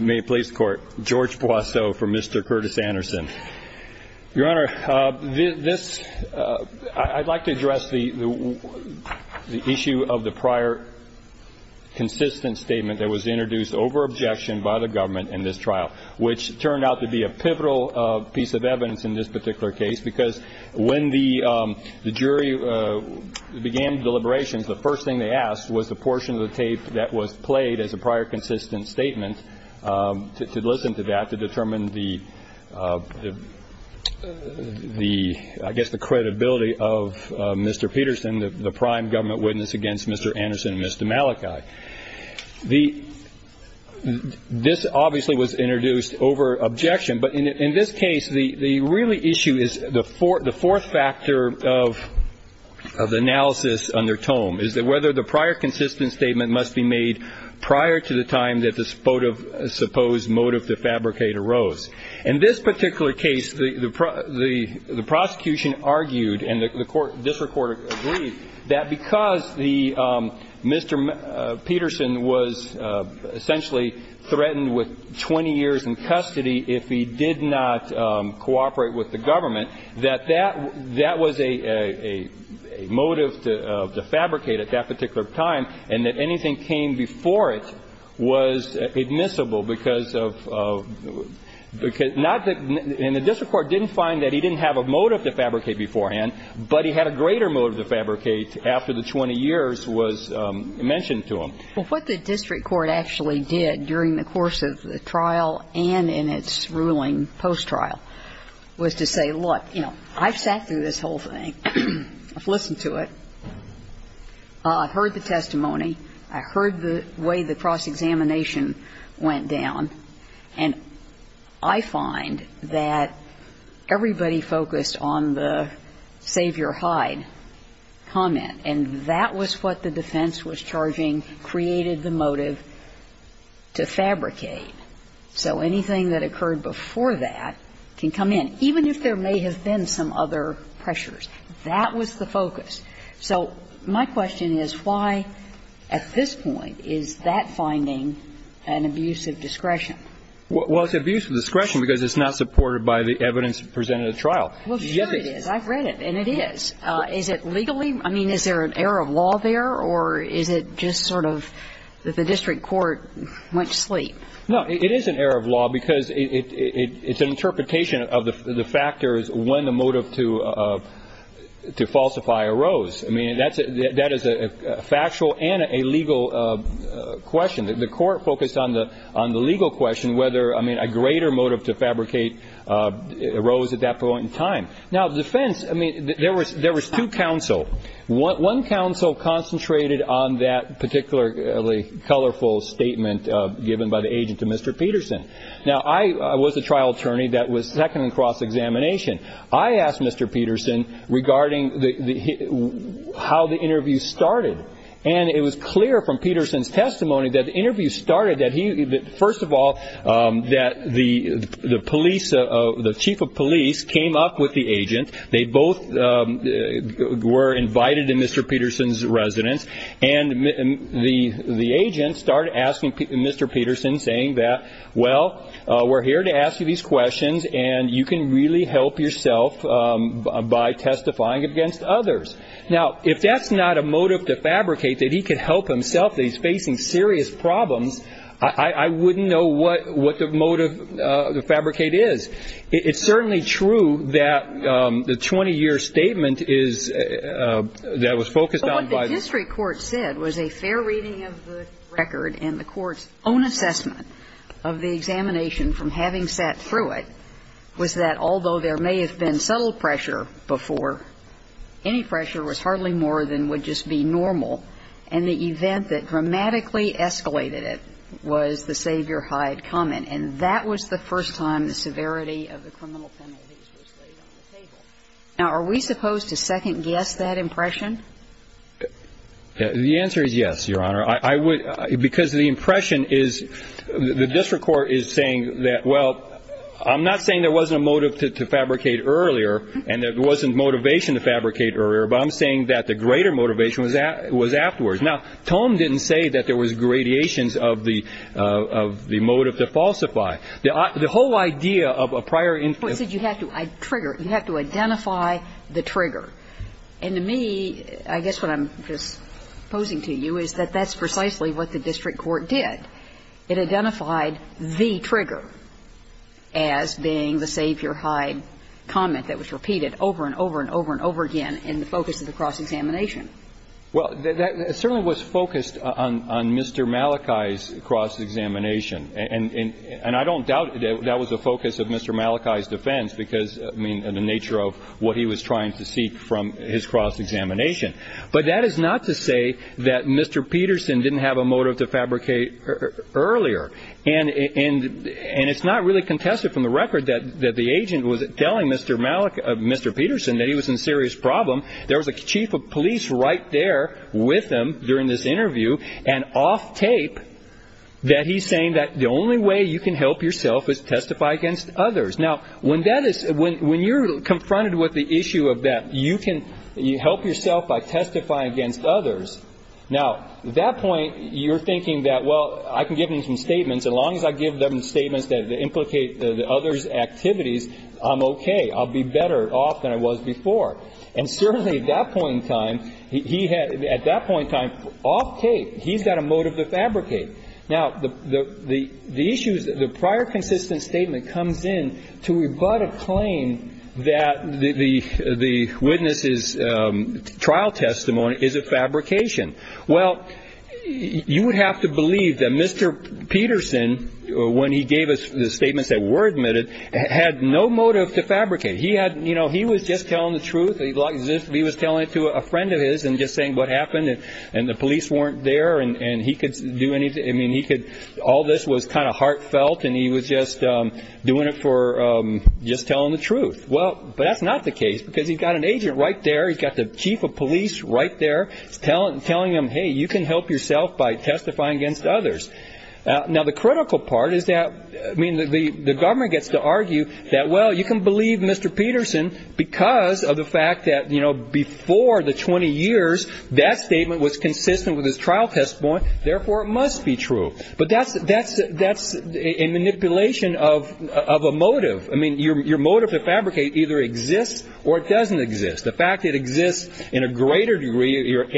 May it please the Court, George Boisseau for Mr. Curtis Anderson. Your Honor, this, I'd like to address the issue of the prior consistent statement that was introduced over objection by the government in this trial, which turned out to be a pivotal piece of evidence in this particular case because when the jury began deliberations, the first thing they asked was the portion of the tape that was played as a prior consistent statement to listen to that, to determine the the I guess the credibility of Mr. Peterson, the prime government witness against Mr. Anderson, Mr. Malachi. The this obviously was introduced over objection. But in this case, the really issue is the fourth factor of the analysis under Tome, is that whether the prior consistent statement must be made prior to the time that the supposed motive to fabricate arose. In this particular case, the prosecution argued and the district court agreed that because the Mr. Peterson was 20 years in custody, if he did not cooperate with the government, that that that was a motive to fabricate at that particular time and that anything came before it was admissible because of because not that the district court didn't find that he didn't have a motive to fabricate beforehand, but he had a greater motive to fabricate after the 20 years was mentioned to him. Well, what the district court actually did during the course of the trial and in its ruling post-trial was to say, look, you know, I've sat through this whole thing. I've listened to it. I've heard the testimony. I heard the way the cross-examination went down. And I find that everybody focused on the save-your-hide comment. And that was what the defense was charging created the motive to fabricate. So anything that occurred before that can come in. Even if there may have been some other pressures, that was the focus. So my question is why, at this point, is that finding an abuse of discretion? Well, it's abuse of discretion because it's not supported by the evidence presented at trial. Well, sure it is. I've read it, and it is. Is it legally? I mean, is there an error of law there, or is it just sort of the district court went to sleep? No, it is an error of law because it's an interpretation of the factors when the motive to falsify arose. I mean, that is a factual and a legal question. The court focused on the legal question, whether, I mean, a greater motive to fabricate arose at that point in time. Now, the defense, I mean, there was two counsel. One counsel concentrated on that particularly colorful statement given by the agent to Mr. Peterson. Now, I was a trial attorney that was second in cross-examination. I asked Mr. Peterson regarding how the interview started, and it was clear from Peterson's testimony that the interview started that he, first of all, that the chief of police came up with the agent. They both were invited to Mr. Peterson's residence, and the agent started asking Mr. Peterson, saying that, well, we're here to ask you these questions, and you can really help yourself by testifying against others. Now, if that's not a motive to fabricate, that he could help himself, that he's facing serious problems, I wouldn't know what the motive to fabricate is. It's certainly true that the 20-year statement is, that it was focused on by the judge. But what the district court said was a fair reading of the record, and the court's own assessment of the examination from having sat through it was that, although there may have been subtle pressure before, any pressure was hardly more than would just be normal. And the event that dramatically escalated it was the save-your-hide comment, and that was the first time the severity of the criminal penalties was laid on the table. Now, are we supposed to second-guess that impression? The answer is yes, Your Honor. I would, because the impression is, the district court is saying that, well, I'm not saying there wasn't a motive to fabricate earlier, and there wasn't motivation to fabricate earlier, but I'm saying that the greater motivation was afterwards. Now, Tome didn't say that there was gradations of the motive to falsify. The whole idea of a prior influence is that you have to trigger, you have to identify the trigger. And to me, I guess what I'm just posing to you is that that's precisely what the district court did. It identified the trigger as being the save-your-hide comment that was repeated over and over and over and over again in the focus of the cross-examination. Well, that certainly was focused on Mr. Malachi's cross-examination. And I don't doubt that that was the focus of Mr. Malachi's defense because, I mean, of the nature of what he was trying to seek from his cross-examination. But that is not to say that Mr. Peterson didn't have a motive to fabricate earlier. And it's not really contested from the record that the agent was telling Mr. Peterson that he was in serious problem. There was a chief of police right there with him during this interview, and off tape, that he's saying that the only way you can help yourself is testify against others. Now, when you're confronted with the issue of that, you can help yourself by testifying against others. Now, at that point, you're thinking that, well, I can give them some statements. As long as I give them statements that implicate the others' activities, I'm okay. I'll be better off than I was before. And certainly at that point in time, he had at that point in time, off tape, he's got a motive to fabricate. Now, the issue is that the prior consistent statement comes in to rebut a claim that the witness's trial testimony is a fabrication. Well, you would have to believe that Mr. Peterson, when he gave the statements that were admitted, had no motive to fabricate. He was just telling the truth. He was telling it to a friend of his and just saying what happened, and the police weren't there, and he could do anything. All this was kind of heartfelt, and he was just doing it for just telling the truth. Well, that's not the case because he's got an agent right there. He's got the chief of police right there telling him, hey, you can help yourself by testifying against others. Now, the critical part is that the government gets to argue that, well, you can believe Mr. Peterson because of the fact that before the 20 years, that statement was consistent with his trial testimony, therefore it must be true. But that's a manipulation of a motive. I mean, your motive to fabricate either exists or it doesn't exist. The fact it exists in a greater degree, your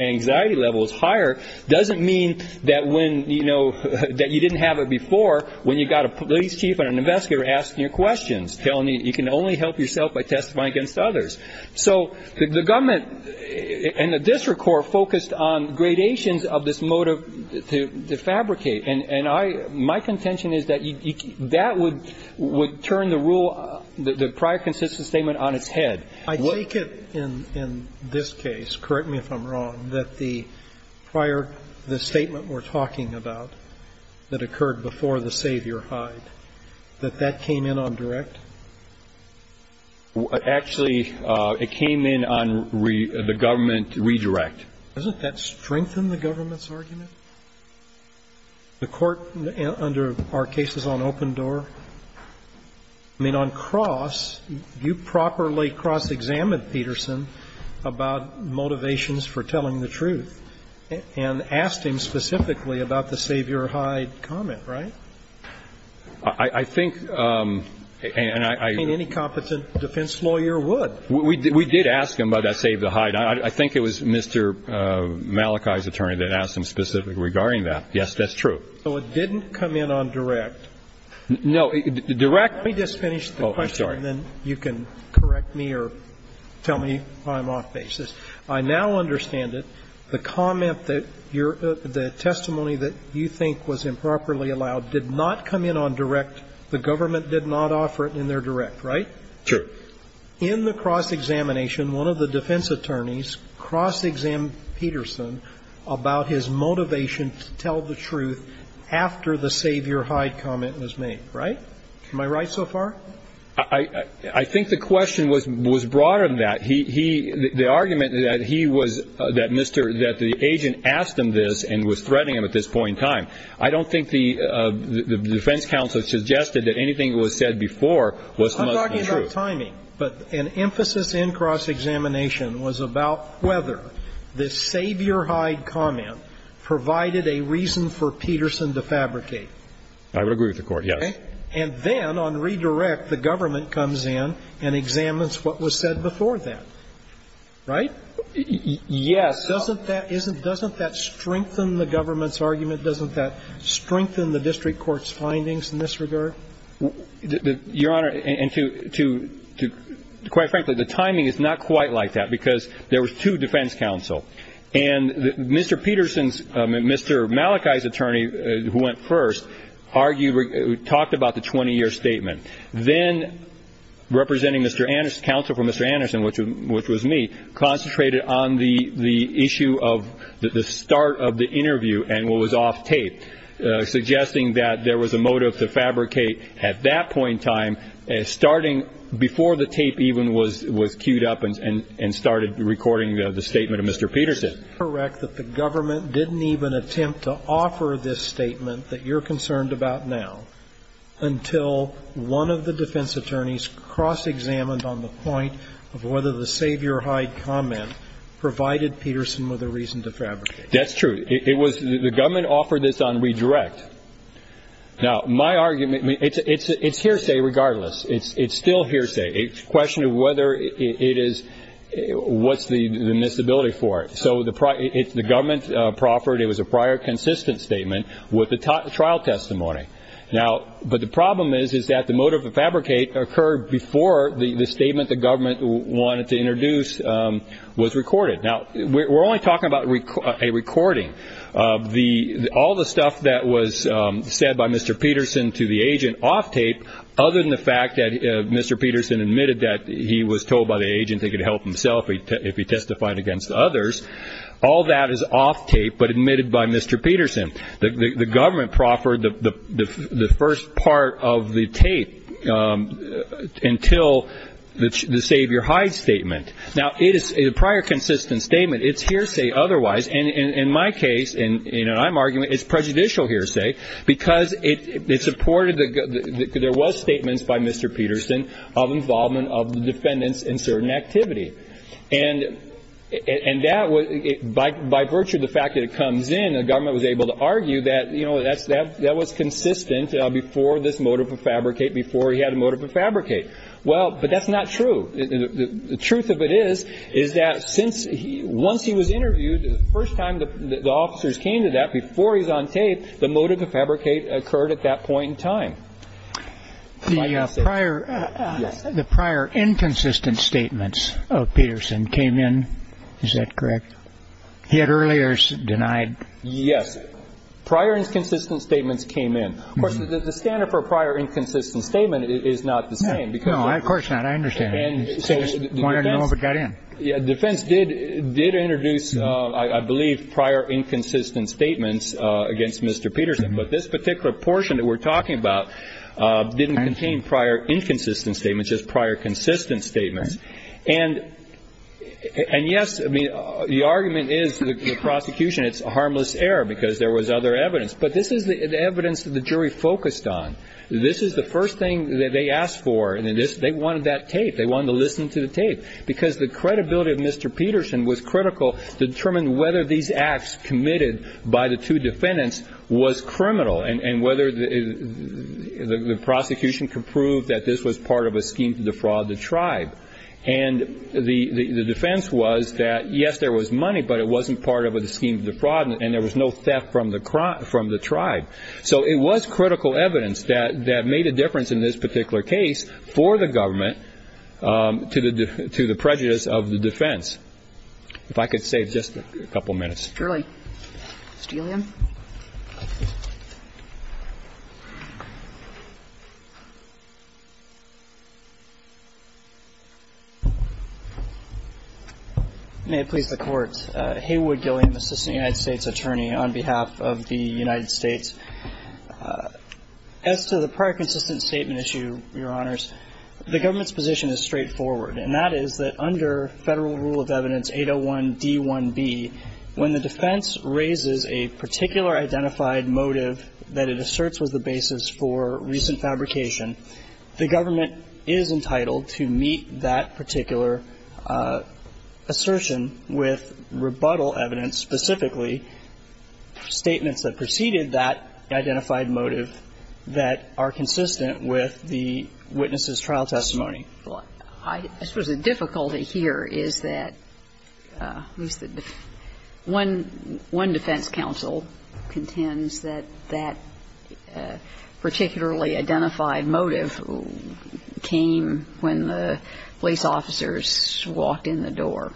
anxiety level is higher, doesn't mean that you didn't have it before when you've got a police chief and an investigator asking you questions, telling you you can only help yourself by testifying against others. So the government and the district court focused on gradations of this motive to fabricate, and my contention is that that would turn the prior consistent statement on its head. I take it in this case, correct me if I'm wrong, that the prior, the statement we're talking about that occurred before the savior hide, that that came in on direct? Actually, it came in on the government redirect. Doesn't that strengthen the government's argument? The court under our case is on open door. I mean, on cross, you properly cross-examined Peterson about motivations for telling the truth and asked him specifically about the savior hide comment, right? I think any competent defense lawyer would. We did ask him about that savior hide. I think it was Mr. Malachi's attorney that asked him specifically regarding that. Yes, that's true. So it didn't come in on direct? No, direct. Oh, I'm sorry. Let me just finish the question and then you can correct me or tell me if I'm off basis. I now understand it. The comment that your – the testimony that you think was improperly allowed did not come in on direct. The government did not offer it in their direct, right? Sure. In the cross-examination, one of the defense attorneys cross-examined Peterson about his motivation to tell the truth after the savior hide comment was made, right? Am I right so far? I think the question was broader than that. He – the argument that he was – that Mr. – that the agent asked him this and was threatening him at this point in time. I don't think the defense counsel suggested that anything that was said before was supposed to be true. I'm talking about timing. But an emphasis in cross-examination was about whether the savior hide comment provided a reason for Peterson to fabricate. I would agree with the Court, yes. Okay? And then on redirect, the government comes in and examines what was said before that, right? Yes. Doesn't that – isn't – doesn't that strengthen the government's argument? Doesn't that strengthen the district court's findings in this regard? Your Honor, and to – quite frankly, the timing is not quite like that because there was two defense counsel. And Mr. Peterson's – Mr. Malachi's attorney, who went first, argued – talked about the 20-year statement. Then, representing Mr. Anderson – counsel for Mr. Anderson, which was me, concentrated on the issue of the start of the interview and what was off tape, suggesting that there was a motive to fabricate at that point in time, starting before the tape even was queued up and started recording the statement of Mr. Peterson. Is it correct that the government didn't even attempt to offer this statement that you're concerned about now until one of the defense attorneys cross-examined on the point of whether the savior hide comment provided Peterson with a reason to fabricate? That's true. It was – the government offered this on redirect. Now, my argument – it's hearsay regardless. It's still hearsay. It's a question of whether it is – what's the admissibility for it? So the – if the government proffered, it was a prior consistent statement with the trial testimony. Now – but the problem is, is that the motive to fabricate occurred before the statement the government wanted to introduce was recorded. Now, we're only talking about a recording. All the stuff that was said by Mr. Peterson to the agent off tape, other than the fact that Mr. Peterson admitted that he was told by the agent he could help himself if he testified against others, all that is off tape but admitted by Mr. Peterson. The government proffered the first part of the tape until the savior hide statement. Now, it is a prior consistent statement. It's hearsay otherwise. And in my case, in an I'm argument, it's prejudicial hearsay because it supported the – there was statements by Mr. Peterson of involvement of the defendants in certain activity. And that – by virtue of the fact that it comes in, the government was able to argue that, you know, that was consistent before this motive to fabricate, before he had a motive to fabricate. Well, but that's not true. The truth of it is, is that since he – once he was interviewed, the first time the officers came to that, before he's on tape, the motive to fabricate occurred at that point in time. The prior inconsistent statements of Peterson came in. Is that correct? He had earlier denied. Yes. Prior inconsistent statements came in. Of course, the standard for a prior inconsistent statement is not the same. No, of course not. That's what I understand. I just wanted to know if it got in. Defense did introduce, I believe, prior inconsistent statements against Mr. Peterson. But this particular portion that we're talking about didn't contain prior inconsistent statements, just prior consistent statements. And, yes, I mean, the argument is the prosecution, it's a harmless error because there was other evidence. But this is the evidence that the jury focused on. This is the first thing that they asked for. They wanted that tape. They wanted to listen to the tape. Because the credibility of Mr. Peterson was critical to determine whether these acts committed by the two defendants was criminal and whether the prosecution could prove that this was part of a scheme to defraud the tribe. And the defense was that, yes, there was money, but it wasn't part of a scheme to defraud and there was no theft from the tribe. So it was critical evidence that made a difference in this particular case for the government to the prejudice of the defense. If I could save just a couple minutes. Surely. Mr. Gilliam? May it please the Court. Thank you, Mr. Chief Justice. My name is Haywood Gilliam, assistant United States attorney on behalf of the United States. As to the prior consistent statement issue, Your Honors, the government's position is straightforward, and that is that under Federal Rule of Evidence 801d1b, when the defense raises a particular identified motive that it asserts was the basis for recent fabrication, the government is entitled to meet that particular assertion with rebuttal evidence, specifically statements that preceded that identified motive that are consistent with the witness's trial testimony. Well, I suppose the difficulty here is that one defense counsel contends that that particularly identified motive came when the police officers walked in the door.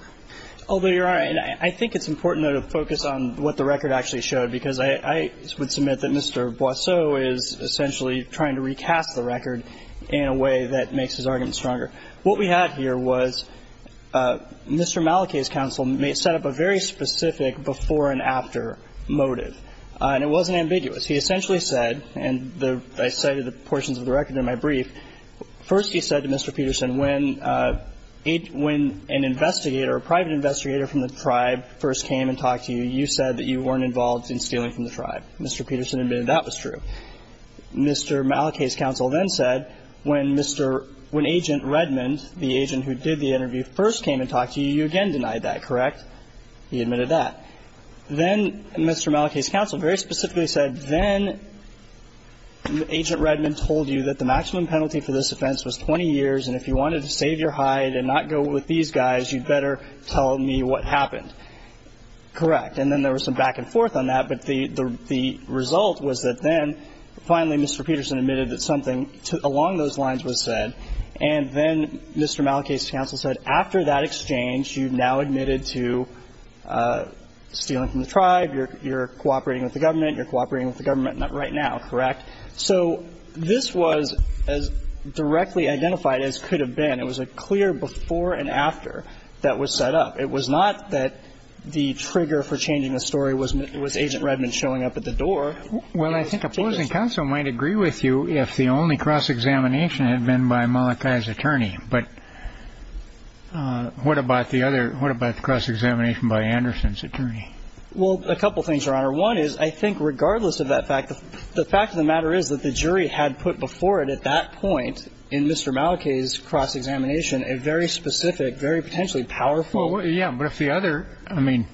Although, Your Honor, I think it's important, though, to focus on what the record actually showed, because I would submit that Mr. Boisseau is essentially trying to recast the record in a way that makes his argument stronger. What we had here was Mr. Malakay's counsel set up a very specific before-and-after motive, and it wasn't ambiguous. He essentially said, and I cited the portions of the record in my brief, first he said to Mr. Peterson, when an investigator, a private investigator from the tribe first came and talked to you, you said that you weren't involved in stealing from the tribe. Mr. Peterson admitted that was true. Mr. Malakay's counsel then said, when Mr. – when Agent Redmond, the agent who did the interview, first came and talked to you, you again denied that, correct? He admitted that. Then Mr. Malakay's counsel very specifically said, then Agent Redmond told you that the maximum penalty for this offense was 20 years, and if you wanted to save your hide and not go with these guys, you'd better tell me what happened. Correct. And then there was some back and forth on that, but the result was that then, finally, Mr. Peterson admitted that something along those lines was said, and then Mr. Malakay's counsel said, after that exchange, you've now admitted to stealing from the tribe, you're cooperating with the government, you're cooperating with the government right now, correct? So this was as directly identified as could have been. It was a clear before and after that was set up. It was not that the trigger for changing the story was Agent Redmond showing up at the door. Well, I think opposing counsel might agree with you if the only cross-examination had been by Malakay's attorney, but what about the other – what about the cross-examination by Anderson's attorney? Well, a couple things, Your Honor. One is, I think, regardless of that fact, the fact of the matter is that the jury had put before it at that point in Mr. Malakay's cross-examination a very specific, very potentially powerful – Well, yeah, but if the other – I mean,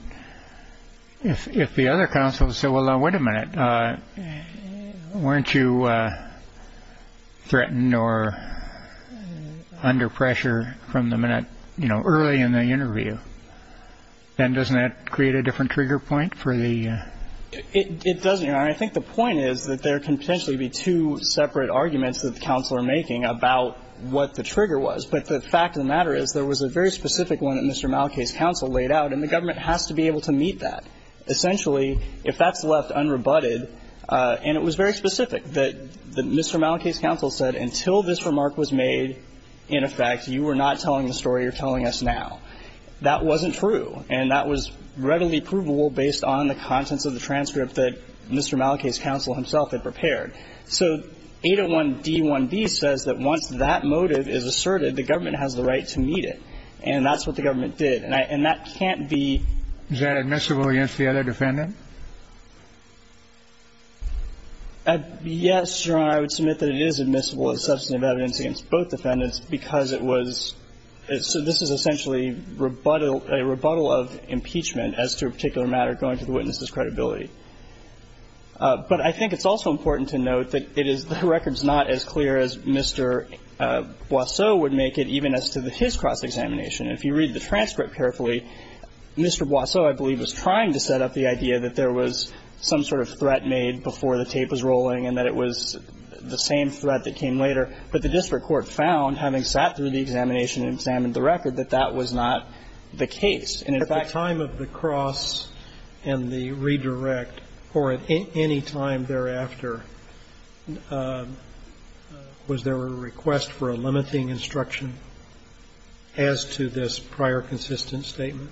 if the other counsel said, well, now, wait a minute, weren't you threatened or under pressure from the minute – you know, early in the interview, then doesn't that create a different trigger point for the – It doesn't, Your Honor. I think the point is that there can potentially be two separate arguments that the counsel are making about what the trigger was, but the fact of the matter is there was a very specific one that Mr. Malakay's counsel laid out, and the government has to be able to meet that. Essentially, if that's left unrebutted – and it was very specific that Mr. Malakay's counsel said, until this remark was made, in effect, you were not telling the story you're telling us now. That wasn't true, and that was readily provable based on the contents of the transcript that Mr. Malakay's counsel himself had prepared. So 801d1b says that once that motive is asserted, the government has the right to meet it, and that's what the government did. And that can't be – Is that admissible against the other defendant? Yes, Your Honor, I would submit that it is admissible as substantive evidence against both defendants because it was – so this is essentially a rebuttal of impeachment as to a particular matter going to the witness's credibility. But I think it's also important to note that it is – the record's not as clear as Mr. Boisseau would make it, even as to his cross-examination. If you read the transcript carefully, Mr. Boisseau, I believe, was trying to set up the idea that there was some sort of threat made before the tape was rolling and that it was the same threat that came later. But the district court found, having sat through the examination and examined the record, that that was not the case. And in fact – At the time of the cross and the redirect, or at any time thereafter, was there a request for a limiting instruction as to this prior consistent statement?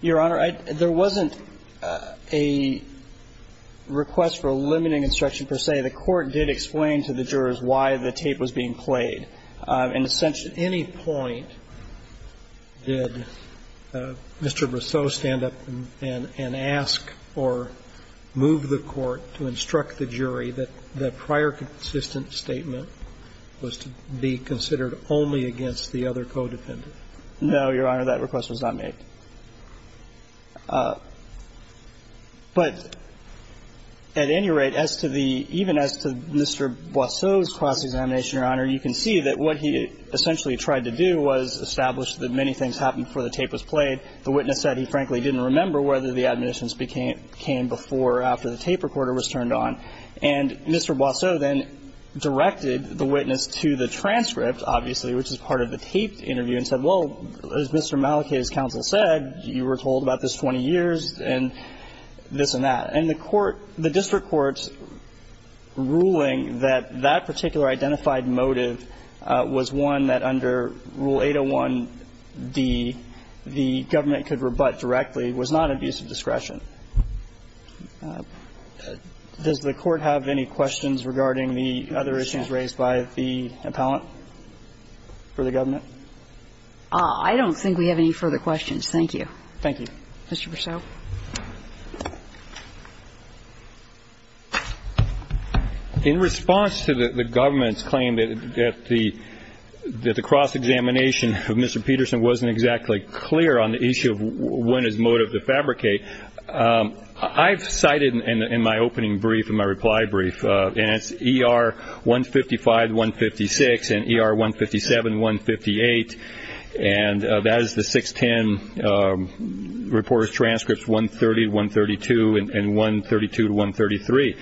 Your Honor, I – there wasn't a request for a limiting instruction per se. The court did explain to the jurors why the tape was being played. In a sense, at any point did Mr. Boisseau stand up and ask or move the court to instruct the jury that the prior consistent statement was to be considered only against the other codependent? No, Your Honor. That request was not made. But at any rate, as to the – even as to Mr. Boisseau's cross-examination, Your Honor, you can see that what he essentially tried to do was establish that many things happened before the tape was played. The witness said he frankly didn't remember whether the admonitions came before or after the tape recorder was turned on. And Mr. Boisseau then directed the witness to the transcript, obviously, which is part of the taped interview and said, well, as Mr. Malachy's counsel said, you were told about this 20 years and this and that. And the court – the district court's ruling that that particular identified motive was one that under Rule 801d the government could rebut directly was not abuse of discretion. Does the Court have any questions regarding the other issues raised by the appellant for the government? I don't think we have any further questions. Thank you. Thank you. Mr. Boisseau. In response to the government's claim that the cross-examination of Mr. Peterson wasn't exactly clear on the issue of when his motive defabricated, I've cited in my opening brief and my reply brief, and it's ER 155-156 and ER 157-158. And that is the 610 reporter's transcripts 130-132 and 132-133.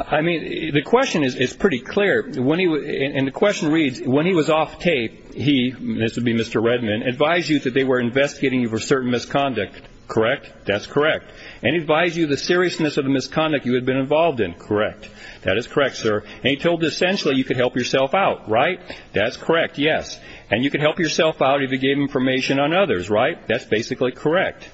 I mean, the question is pretty clear. And the question reads, when he was off tape, he – this would be Mr. Redman – advised you that they were investigating you for certain misconduct, correct? That's correct. And he advised you of the seriousness of the misconduct you had been involved in, correct? That is correct, sir. And he told you essentially you could help yourself out, right? That's correct, yes. And you could help yourself out if you gave information on others, right? That's basically correct.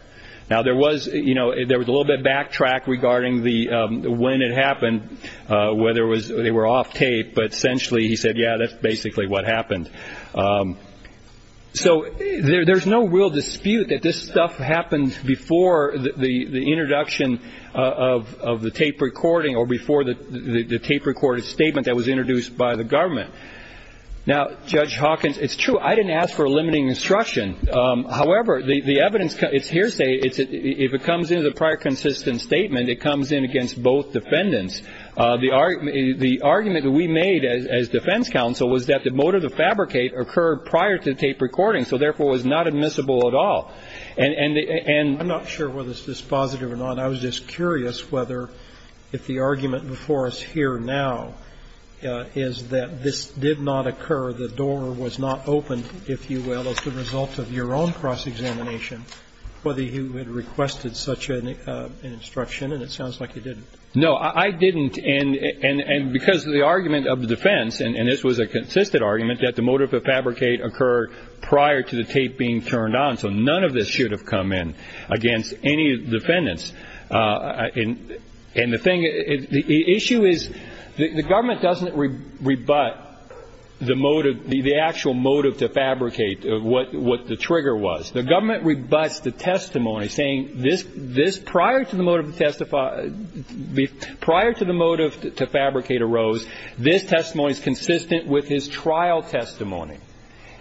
Now, there was – you know, there was a little bit of backtrack regarding the – when it happened, whether it was they were off tape, but essentially he said, yeah, that's basically what happened. So there's no real dispute that this stuff happened before the introduction of the tape recording or before the tape recorded statement that was introduced by the government. Now, Judge Hawkins, it's true, I didn't ask for a limiting instruction. However, the evidence – it's hearsay. If it comes into the prior consistent statement, it comes in against both defendants. The argument that we made as defense counsel was that the motive to fabricate occurred prior to the tape recording, so therefore it was not admissible at all. And the – and – I'm not sure whether this is positive or not. I was just curious whether if the argument before us here now is that this did not occur, the door was not opened, if you will, as a result of your own cross-examination, whether you had requested such an instruction, and it sounds like you didn't. No, I didn't. And because the argument of the defense, and this was a consistent argument, that the motive to fabricate occurred prior to the tape being turned on, so none of this should have come in against any defendants. And the thing – the issue is the government doesn't rebut the motive, the actual motive to fabricate, what the trigger was. The government rebuts the testimony saying this – this prior to the motive to testify – prior to the motive to fabricate arose, this testimony is consistent with his trial testimony.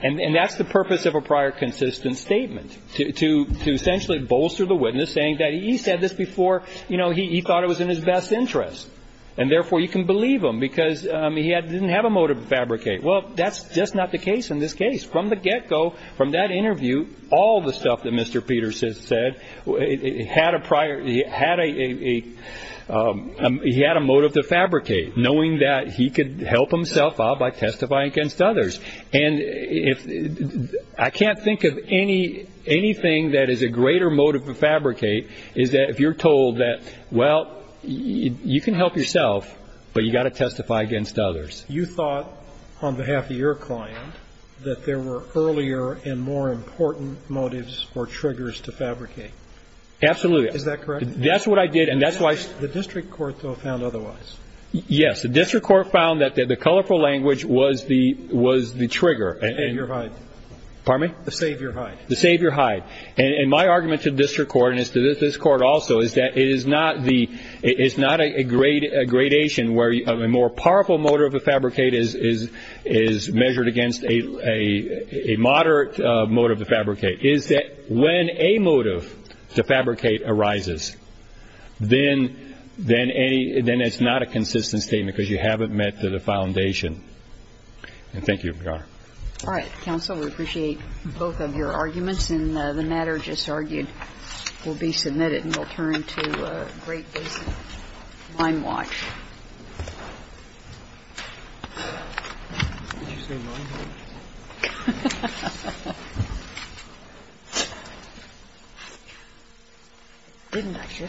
And that's the purpose of a prior consistent statement, to essentially bolster the witness, saying that he said this before, you know, he thought it was in his best interest, and therefore you can believe him because he didn't have a motive to fabricate. Well, that's just not the case in this case. From the get-go, from that interview, all the stuff that Mr. Peterson said, he had a motive to fabricate, knowing that he could help himself out by testifying against others. And I can't think of anything that is a greater motive to fabricate is that if you're told that, well, you can help yourself, but you've got to testify against others. You thought, on behalf of your client, that there were earlier and more important motives or triggers to fabricate. Absolutely. Is that correct? That's what I did, and that's why – The district court, though, found otherwise. Yes. The district court found that the colorful language was the – was the trigger. The savior hide. Pardon me? The savior hide. The savior hide. And my argument to the district court and to this court also is that it is not the – a more powerful motive to fabricate is measured against a moderate motive to fabricate. It is that when a motive to fabricate arises, then it's not a consistent statement because you haven't met the foundation. And thank you, Your Honor. All right. Counsel, we appreciate both of your arguments, And the matter just argued will be submitted and will turn to a Great Basin Lime Watch. Did you say Lime Watch?